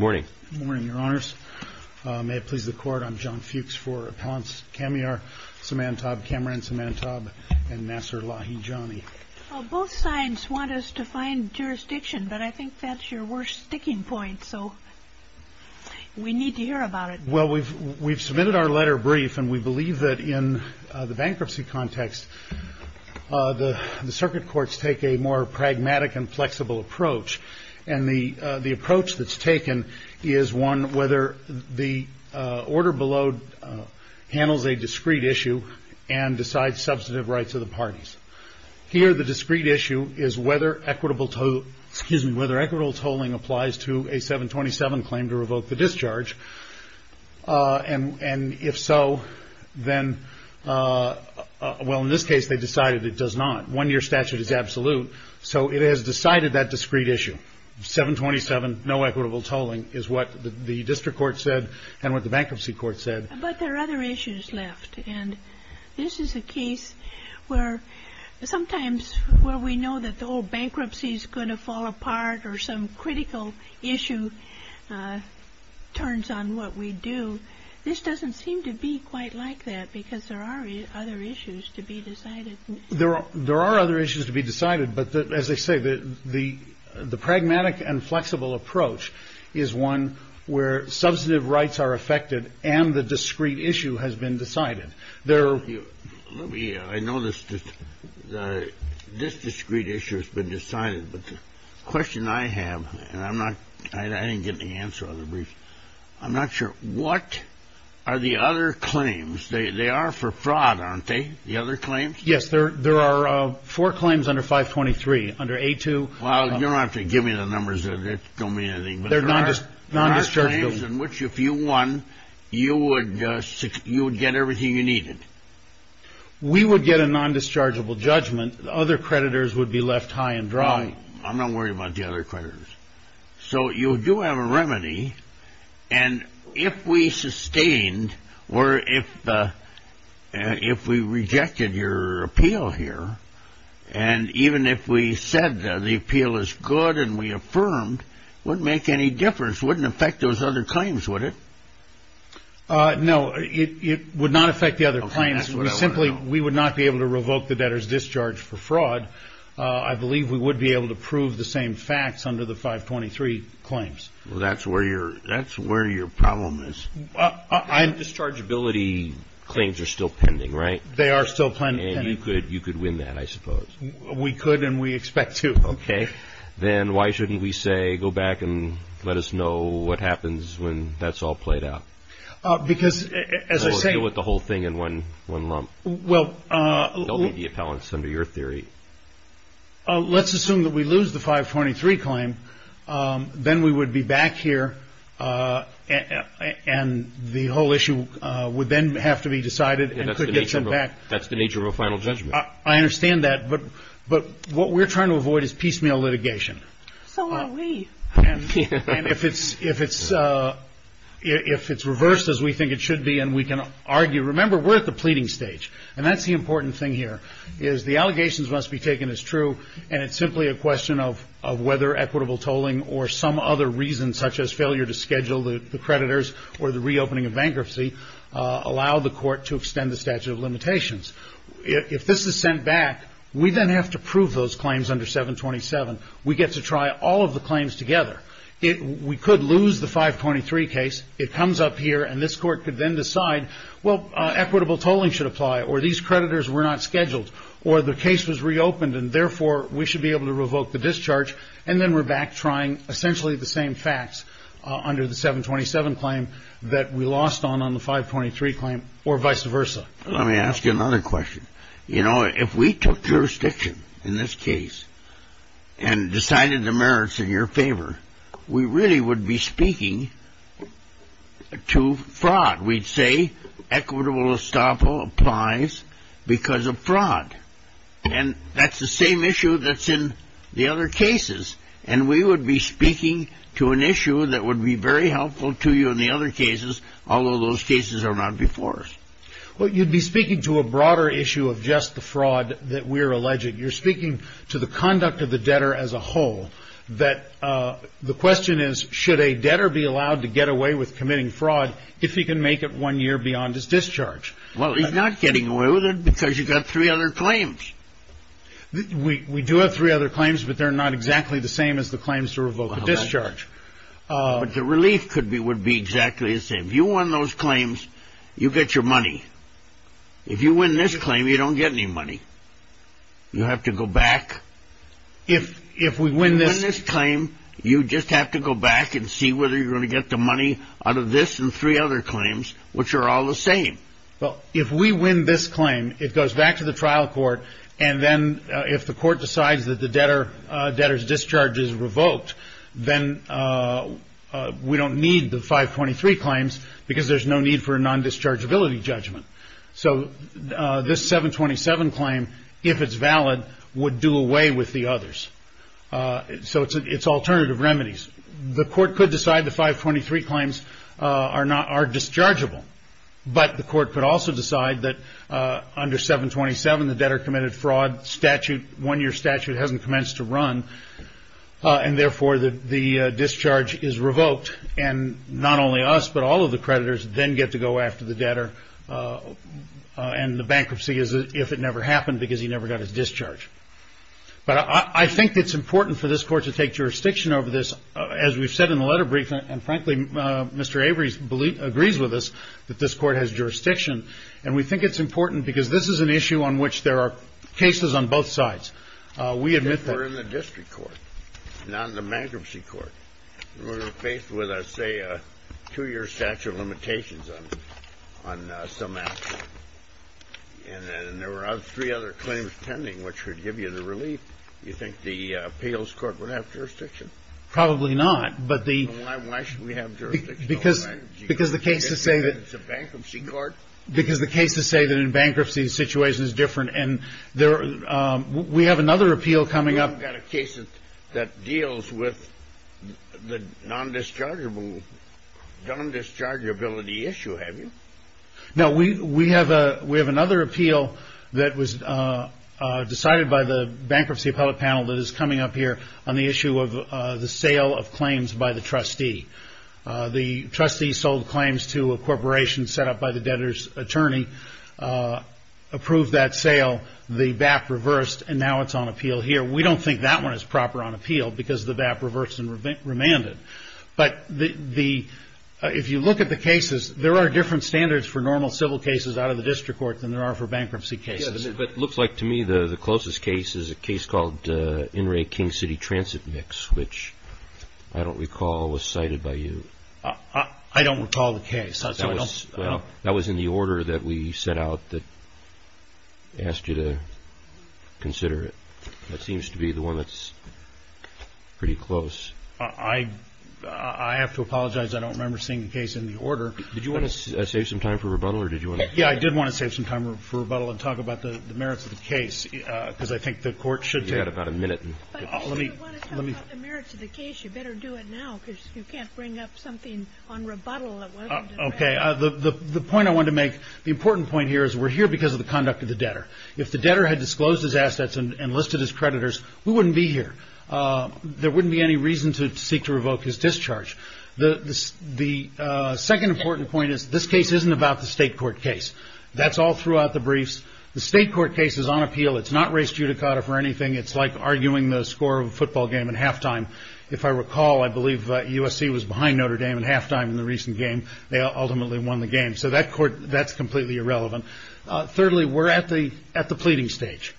Both sides want us to find jurisdiction, but I think that's your worst sticking point, so we need to hear about it. Well, we've submitted our letter brief, and we believe that in the bankruptcy context, the circuit courts take a more pragmatic and flexible approach, and the approach that's taken is one whether the order below handles a discrete issue and decides substantive rights of the parties. Here, the discrete issue is whether equitable tolling applies to a 727 claim to revoke the 727. In this case, they decided it does not. One-year statute is absolute, so it has decided that discrete issue. 727, no equitable tolling, is what the district court said and what the bankruptcy court said. But there are other issues left, and this is a case where sometimes where we know that the whole bankruptcy is going to fall apart or some critical issue turns on what we do. This doesn't seem to be quite like that because there are other issues to be decided. There are there are other issues to be decided. But as I say, the the the pragmatic and flexible approach is one where substantive rights are affected and the discrete issue has been decided. There will be. I know this. This discrete issue has been decided. But the question I have, and I'm not I didn't get the answer on the brief, I'm not sure what are the other claims they are for fraud, aren't they? The other claims? Yes, there there are four claims under 523 under a two. Well, you don't have to give me the numbers of it. Tell me anything. They're not just not just in which if you won, you would you would get everything you needed. We would get a non-dischargeable judgment. The other creditors would be left high and dry. I'm not worried about the other creditors. So you do have a remedy. And if we sustained or if if we rejected your appeal here and even if we said the appeal is good and we affirmed wouldn't make any difference, wouldn't affect those other claims, would it? No, it would not affect the other clients. Simply, we would not be able to revoke the debtor's discharge for fraud. I believe we would be able to prove the same facts under the 523 claims. Well, that's where you're that's where your problem is. I'm dischargeability claims are still pending, right? They are still playing. And you could you could win that, I suppose. We could and we expect to. OK, then why shouldn't we say go back and let us know what happens when that's all played out? Because as I say, with the whole thing in one one lump, well, the appellants under your theory. Let's assume that we lose the 523 claim, then we would be back here and the whole issue would then have to be decided and could get some back. That's the nature of a final judgment. I understand that. But but what we're trying to avoid is piecemeal litigation. So are we. And if it's if it's if it's reversed as we think it should be and we can argue, remember, we're at the pleading stage. And that's the important thing here is the allegations must be taken as true. And it's simply a question of of whether equitable tolling or some other reason, such as failure to schedule the creditors or the reopening of bankruptcy, allow the court to extend the statute of limitations. If this is sent back, we then have to prove those claims under 727. We get to try all of the claims together. If we could lose the 523 case, it comes up here and this court could then decide, well, equitable tolling should apply or these creditors were not scheduled or the case was reopened. And therefore, we should be able to revoke the discharge. And then we're back trying essentially the same facts under the 727 claim that we lost on on the 523 claim or vice versa. Let me ask you another question. You know, if we took jurisdiction in this case and decided the merits in your favor, we really would be speaking to fraud. We'd say equitable estoppel applies because of fraud. And that's the same issue that's in the other cases. And we would be speaking to an issue that would be very helpful to you in the other cases, although those cases are not before us. Well, you'd be speaking to a broader issue of just the fraud that we're alleging. You're speaking to the conduct of the debtor as a whole, that the question is, should a debtor be allowed to get away with committing fraud if he can make it one year beyond his discharge? Well, he's not getting away with it because you've got three other claims. We do have three other claims, but they're not exactly the same as the claims to revoke a discharge. But the relief could be would be exactly the same. If you won those claims, you get your money. If you win this claim, you don't get any money. You have to go back. If we win this claim, you just have to go back and see whether you're going to get the money out of this and three other claims, which are all the same. Well, if we win this claim, it goes back to the trial court. And then if the court decides that the debtor's discharge is revoked, then we don't need the 523 claims because there's no need for a non-dischargeability judgment. So this 727 claim, if it's valid, would do away with the others. So it's alternative remedies. The court could decide the 523 claims are not are dischargeable, but the court could also decide that under 727, the debtor committed fraud statute, one-year statute hasn't commenced to run. And therefore, the discharge is revoked. And not only us, but all of the creditors then get to go after the debtor. And the bankruptcy is if it never happened because he never got his discharge. But I think it's important for this court to take jurisdiction over this. As we've said in the letter briefing, and frankly, Mr. Avery's belief agrees with us that this court has jurisdiction. And we think it's important because this is an issue on which there are cases on both sides. We admit that we're in the district court, not in the bankruptcy court. We're faced with a, say, a two-year statute of limitations on on some action. And then there were three other claims pending, which would give you the relief. You think the appeals court would have jurisdiction? Probably not. But why should we have jurisdiction over bankruptcy court? It's a bankruptcy court. Because the cases say that in bankruptcy, the situation is different. And we have another appeal coming up. You haven't got a case that deals with the non-dischargeability issue, have you? No, we have another appeal that was decided by the bankruptcy appellate panel that is by the trustee. The trustee sold claims to a corporation set up by the debtor's attorney, approved that sale, the BAP reversed, and now it's on appeal here. We don't think that one is proper on appeal because the BAP reversed and remanded. But if you look at the cases, there are different standards for normal civil cases out of the district court than there are for bankruptcy cases. But it looks like to me the closest case is a case called In re King City Transit Mix, which I don't recall was cited by you. I don't recall the case. Well, that was in the order that we set out that asked you to consider it. That seems to be the one that's pretty close. I have to apologize. I don't remember seeing the case in the order. Did you want to save some time for rebuttal or did you want to? Yeah, I did want to save some time for rebuttal and talk about the merits of the case because I think the court should take about a minute. But if you want to talk about the merits of the case, you better do it now because you can't bring up something on rebuttal that wasn't in the record. The point I want to make, the important point here is we're here because of the conduct of the debtor. If the debtor had disclosed his assets and enlisted his creditors, we wouldn't be here. There wouldn't be any reason to seek to revoke his discharge. The second important point is this case isn't about the state court case. That's all throughout the briefs. The state court case is on appeal. It's not res judicata for anything. It's like arguing the score of a football game at halftime. If I recall, I believe USC was behind Notre Dame at halftime in the recent game. They ultimately won the game. So that court, that's completely irrelevant. Thirdly, we're at the at the pleading stage.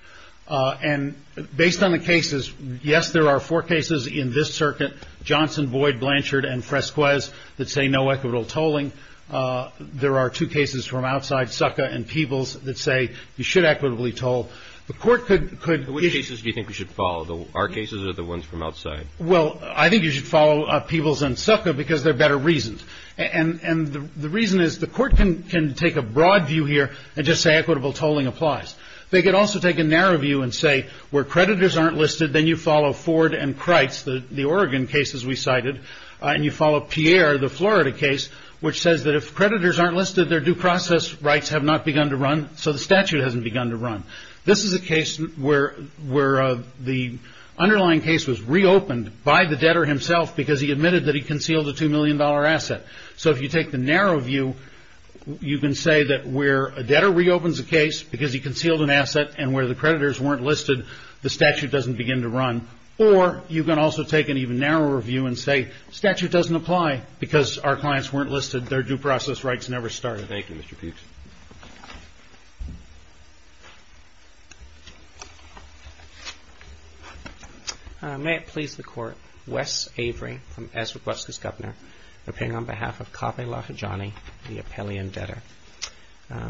And based on the cases, yes, there are four cases in this circuit, Johnson, Boyd, Blanchard and Fresquez that say no equitable tolling. There are two cases from outside, Succa and Peebles, that say you should equitably toll. The court could. Which cases do you think we should follow? Our cases or the ones from outside? Well, I think you should follow Peebles and Succa because they're better reasons. And the reason is the court can take a broad view here and just say equitable tolling applies. They could also take a narrow view and say where creditors aren't listed, then you follow Ford and Crites, the Oregon cases we cited, and you follow Pierre, the Florida case, which says that if creditors aren't listed, their due process rights have not begun to run. So the statute hasn't begun to run. This is a case where where the underlying case was reopened by the debtor himself because he admitted that he concealed a two million dollar asset. So if you take the narrow view, you can say that where a debtor reopens a case because he concealed an asset and where the creditors weren't listed, the statute doesn't begin to run. Or you can also take an even narrower view and say statute doesn't apply because our clients weren't listed. Their due process rights never started. Thank you, Mr. Peebs. May it please the court, Wes Avery from Ezra Breskis, Governor, opinion on behalf of Kaveh Lahajani, the Appellee and Debtor.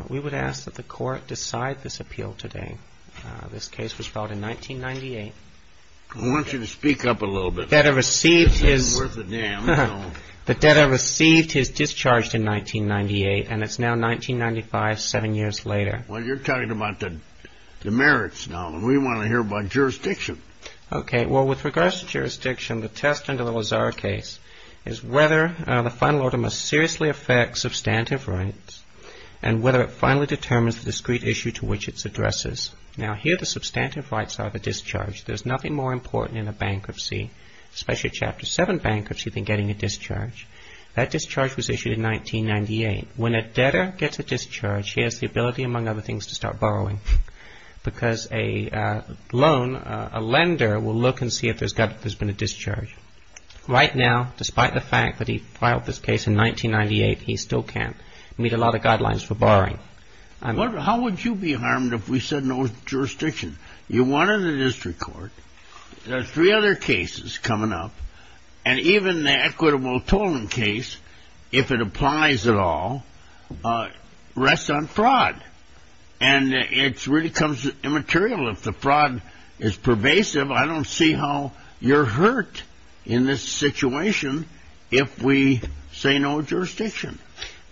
We would ask that the court decide this appeal today. This case was filed in 1998. I want you to speak up a little bit. The debtor received his. It's not worth a damn. The debtor received his discharge in 1998 and it's now 1995, seven years later. Well, you're talking about the merits now and we want to hear about jurisdiction. Okay. Well, with regards to jurisdiction, the test under the Lazar case is whether the final order must seriously affect substantive rights and whether it finally determines the discrete issue to which it's addresses. Now, here the substantive rights are the discharge. There's nothing more important in a bankruptcy, especially a Chapter 7 bankruptcy, than getting a discharge. That discharge was issued in 1998. When a debtor gets a discharge, he has the ability, among other things, to start borrowing because a loan, a lender will look and see if there's been a discharge. Right now, despite the fact that he filed this case in 1998, he still can't meet a lot of guidelines for borrowing. How would you be harmed if we said no jurisdiction? You wanted a district court. There are three other cases coming up and even the equitable tolling case, if it applies at all, rests on fraud and it really becomes immaterial if the fraud is pervasive. I don't see how you're hurt in this situation if we say no jurisdiction.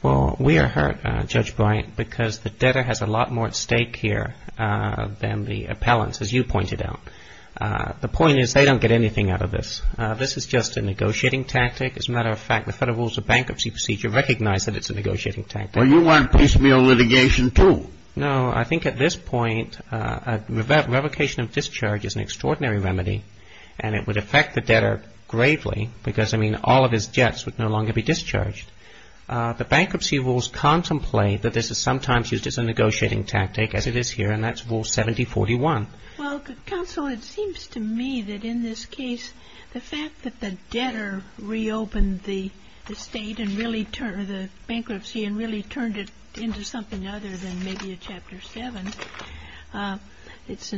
Well, we are hurt, Judge Bryant, because the debtor has a lot more at stake here than the appellants, as you pointed out. The point is they don't get anything out of this. This is just a negotiating tactic. As a matter of fact, the Federal Rules of Bankruptcy Procedure recognize that it's a negotiating tactic. Well, you want piecemeal litigation, too. No, I think at this point, a revocation of discharge is an extraordinary remedy and it would affect the debtor gravely because, I mean, all of his debts would no longer be discharged. The bankruptcy rules contemplate that this is sometimes used as a negotiating tactic, as it is here, and that's Rule 7041. Well, Counsel, it seems to me that in this case, the fact that the debtor reopened the state and really turned the bankruptcy and really turned it into something other than maybe a Chapter 7, it's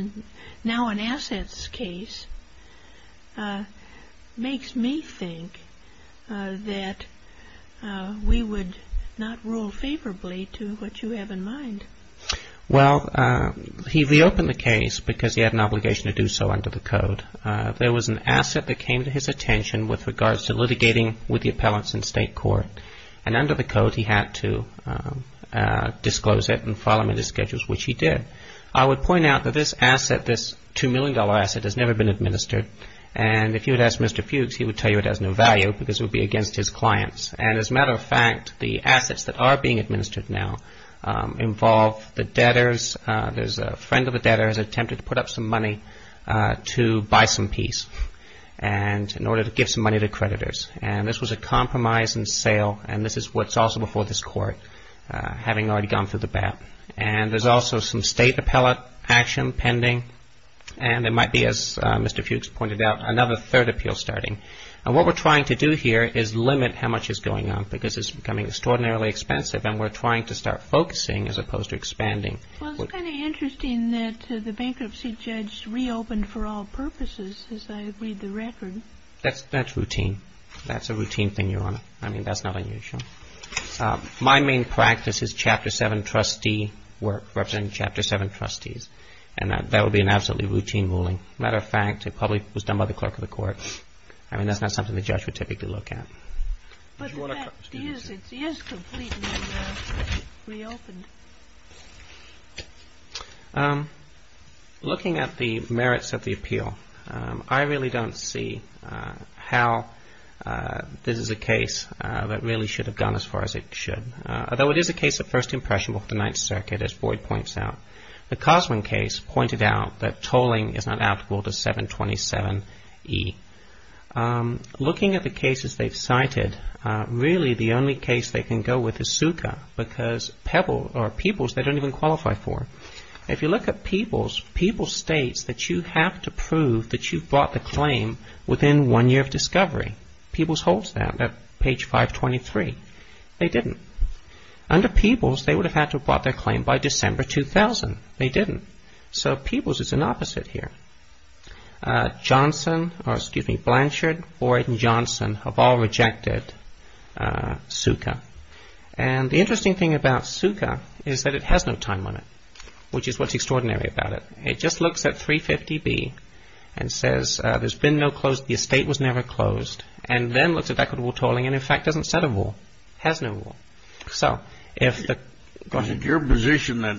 now an assets case, makes me think that we would not rule favorably to what you have in mind. Well, he reopened the case because he had an obligation to do so under the code. There was an asset that came to his attention with regards to litigating with the appellants in state court, and under the code, he had to disclose it and file him in his schedules, which he did. I would point out that this asset, this $2 million asset, has never been administered. And if you had asked Mr. Fuchs, he would tell you it has no value because it would be against his clients. And as a matter of fact, the assets that are being administered now involve the debtors. There's a friend of a debtor who has attempted to put up some money to buy some peace in order to give some money to creditors. And this was a compromise in sale, and this is what's also before this Court, having already gone through the BAP. And there's also some state appellate action pending, and there might be, as Mr. Fuchs pointed out, another third appeal starting. And what we're trying to do here is limit how much is going on, because it's becoming extraordinarily expensive, and we're trying to start focusing as opposed to expanding. Well, it's kind of interesting that the bankruptcy judge reopened for all purposes, as I read the record. That's routine. That's a routine thing, Your Honor. I mean, that's not unusual. My main practice is Chapter 7 trustee work, representing Chapter 7 trustees. And that would be an absolutely routine ruling. Matter of fact, it probably was done by the clerk of the court. I mean, that's not something the judge would typically look at. But the fact is, it is completely reopened. Looking at the merits of the appeal, I really don't see how this is a case that really should have gone as far as it should, although it is a case of first impression before the Ninth Circuit, as Boyd points out. The Cosman case pointed out that tolling is not applicable to 727 E. Looking at the cases they've cited, really the only case they can go with is SUCA, because Pebbles, or Pebbles, they don't even qualify for. If you look at Pebbles, Pebbles states that you have to prove that you brought the claim within one year of discovery. Pebbles holds that at page 523. They didn't. Under Pebbles, they would have had to have brought their claim by December 2000. They didn't. So Pebbles is an opposite here. Johnson, or excuse me, Blanchard, Boyd and Johnson have all rejected SUCA. And the interesting thing about SUCA is that it has no time limit, which is what's extraordinary about it. It just looks at 350B and says there's been no close, the estate was never closed, and then looks at equitable tolling and in fact doesn't set a rule, has no rule. So if the, go ahead. Your position that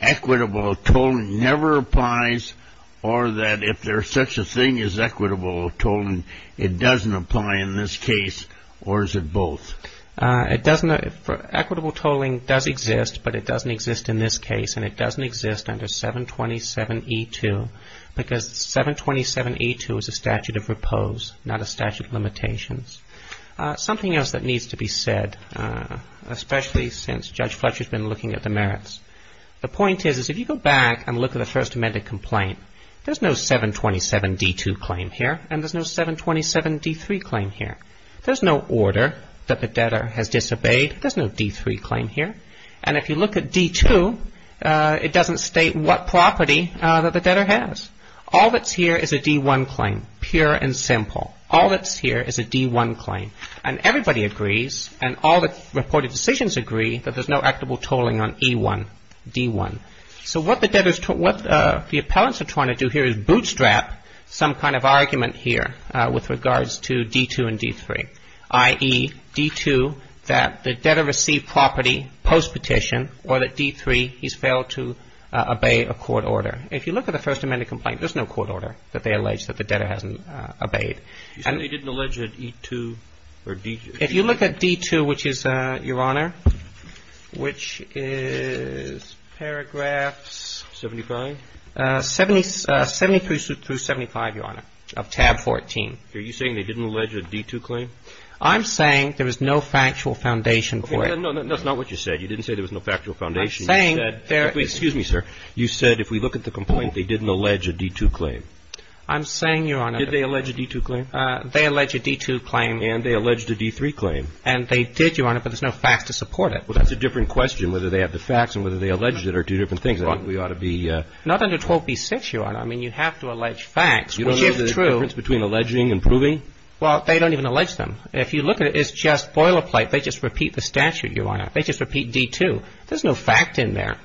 equitable tolling never applies or that if there's such a thing as equitable tolling, it doesn't apply in this case, or is it both? It doesn't. Equitable tolling does exist, but it doesn't exist in this case and it doesn't exist under 727E2, because 727E2 is a statute of repose, not a statute of limitations. Something else that needs to be said. Especially since Judge Fletcher's been looking at the merits. The point is, is if you go back and look at the First Amendment complaint, there's no 727D2 claim here and there's no 727D3 claim here. There's no order that the debtor has disobeyed. There's no D3 claim here. And if you look at D2, it doesn't state what property that the debtor has. All that's here is a D1 claim, pure and simple. All that's here is a D1 claim. And everybody agrees and all the reported decisions agree that there's no equitable tolling on E1, D1. So what the debtors, what the appellants are trying to do here is bootstrap some kind of argument here with regards to D2 and D3, i.e., D2, that the debtor received property post-petition or that D3, he's failed to obey a court order. If you look at the First Amendment complaint, there's no court order that they allege that the debtor hasn't obeyed. You say they didn't allege an E2 or D2? If you look at D2, which is, Your Honor, which is paragraphs... 75? 73 through 75, Your Honor, of tab 14. Are you saying they didn't allege a D2 claim? I'm saying there was no factual foundation for it. No, that's not what you said. You didn't say there was no factual foundation. I'm saying there... Excuse me, sir. You said if we look at the complaint, they didn't allege a D2 claim. I'm saying, Your Honor... Did they allege a D2 claim? They allege a D2 claim. And they alleged a D3 claim. And they did, Your Honor, but there's no facts to support it. Well, that's a different question, whether they have the facts and whether they alleged it are two different things. I think we ought to be... Not under 12B6, Your Honor. I mean, you have to allege facts, which, if true... You don't know the difference between alleging and proving? Well, they don't even allege them. If you look at it, it's just boilerplate. They just repeat the statute, Your Honor. They just repeat D2. There's no fact in there.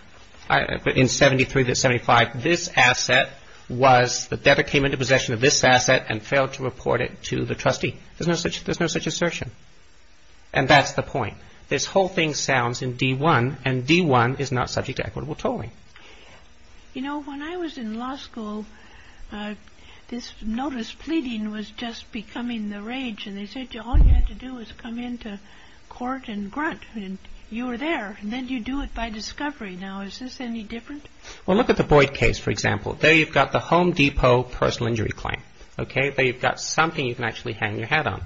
But in 73 to 75, this asset was... The debtor came into possession of this asset and failed to report it to the trustee. There's no such assertion. And that's the point. This whole thing sounds in D1, and D1 is not subject to equitable tolling. You know, when I was in law school, this notice pleading was just becoming the rage. And they said, all you had to do was come into court and grunt. And you were there. And then you do it by discovery. Now, is this any different? Well, look at the Boyd case, for example. There you've got the Home Depot personal injury claim. Okay? There you've got something you can actually hang your hat on.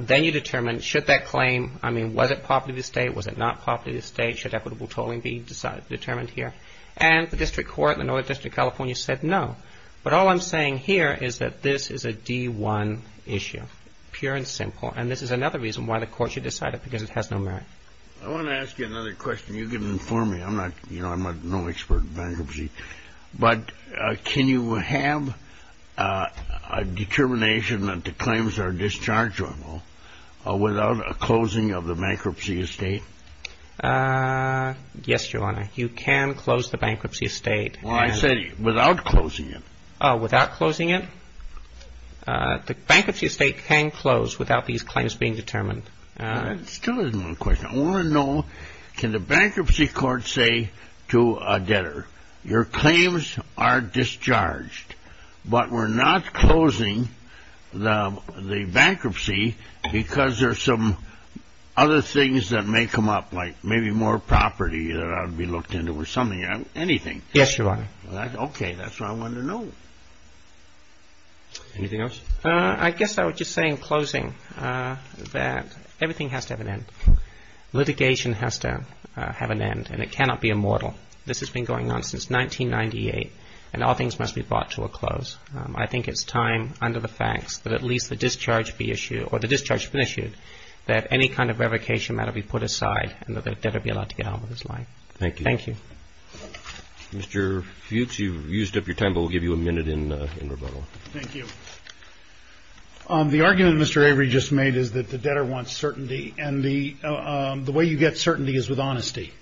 Then you determine, should that claim... I mean, was it property of the state? Was it not property of the state? Should equitable tolling be determined here? And the district court in the Northern District of California said no. But all I'm saying here is that this is a D1 issue, pure and simple. And this is another reason why the court should decide it, because it has no merit. I want to ask you another question. You can inform me. I'm not, you know, I'm no expert in bankruptcy. But can you have a determination that the claims are dischargeable without a closing of the bankruptcy estate? Yes, Your Honor. You can close the bankruptcy estate. Well, I said without closing it. Without closing it? The bankruptcy estate can close without these claims being determined. That still isn't a question. I want to know, can the bankruptcy court say to a debtor, your claims are discharged, but we're not closing the bankruptcy because there's some other things that may come up, like maybe more property that ought to be looked into or something, anything. Yes, Your Honor. OK, that's what I wanted to know. Anything else? I guess I would just say in closing that everything has to have an end. Litigation has to have an end, and it cannot be immortal. This has been going on since 1998, and all things must be brought to a close. I think it's time, under the facts, that at least the discharge be issued, or the discharge be issued, that any kind of revocation matter be put aside and that the debtor be allowed to get on with his life. Thank you. Thank you. Mr. Fuchs, you've used up your time, but we'll give you a minute in rebuttal. Thank you. The argument that Mr. Avery just made is that the debtor wants certainty, and the way you get certainty is with honesty.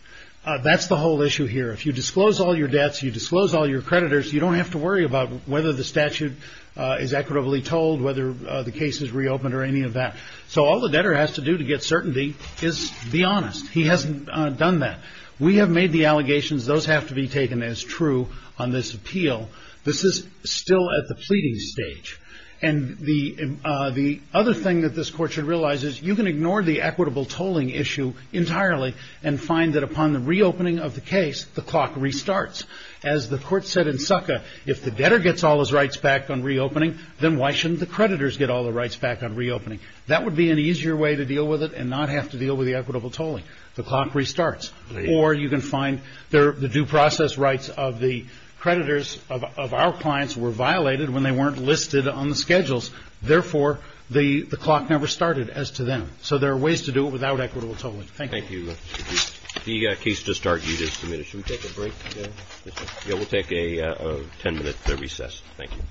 That's the whole issue here. If you disclose all your debts, you disclose all your creditors, you don't have to worry about whether the statute is equitably told, whether the case is reopened or any of that. So all the debtor has to do to get certainty is be honest. He hasn't done that. We have made the allegations. Those have to be taken as true on this appeal. This is still at the pleading stage. And the other thing that this Court should realize is you can ignore the equitable tolling issue entirely and find that upon the reopening of the case, the clock restarts. As the Court said in Succa, if the debtor gets all his rights back on reopening, then why shouldn't the creditors get all the rights back on reopening? That would be an easier way to deal with it and not have to deal with the equitable tolling. The clock restarts. Or you can find the due process rights of the creditors of our clients were violated when they weren't listed on the schedules. Therefore, the clock never started as to them. So there are ways to do it without equitable tolling. Thank you. The case just argued is submitted. Should we take a break? Yeah, we'll take a 10 minute recess. Thank you.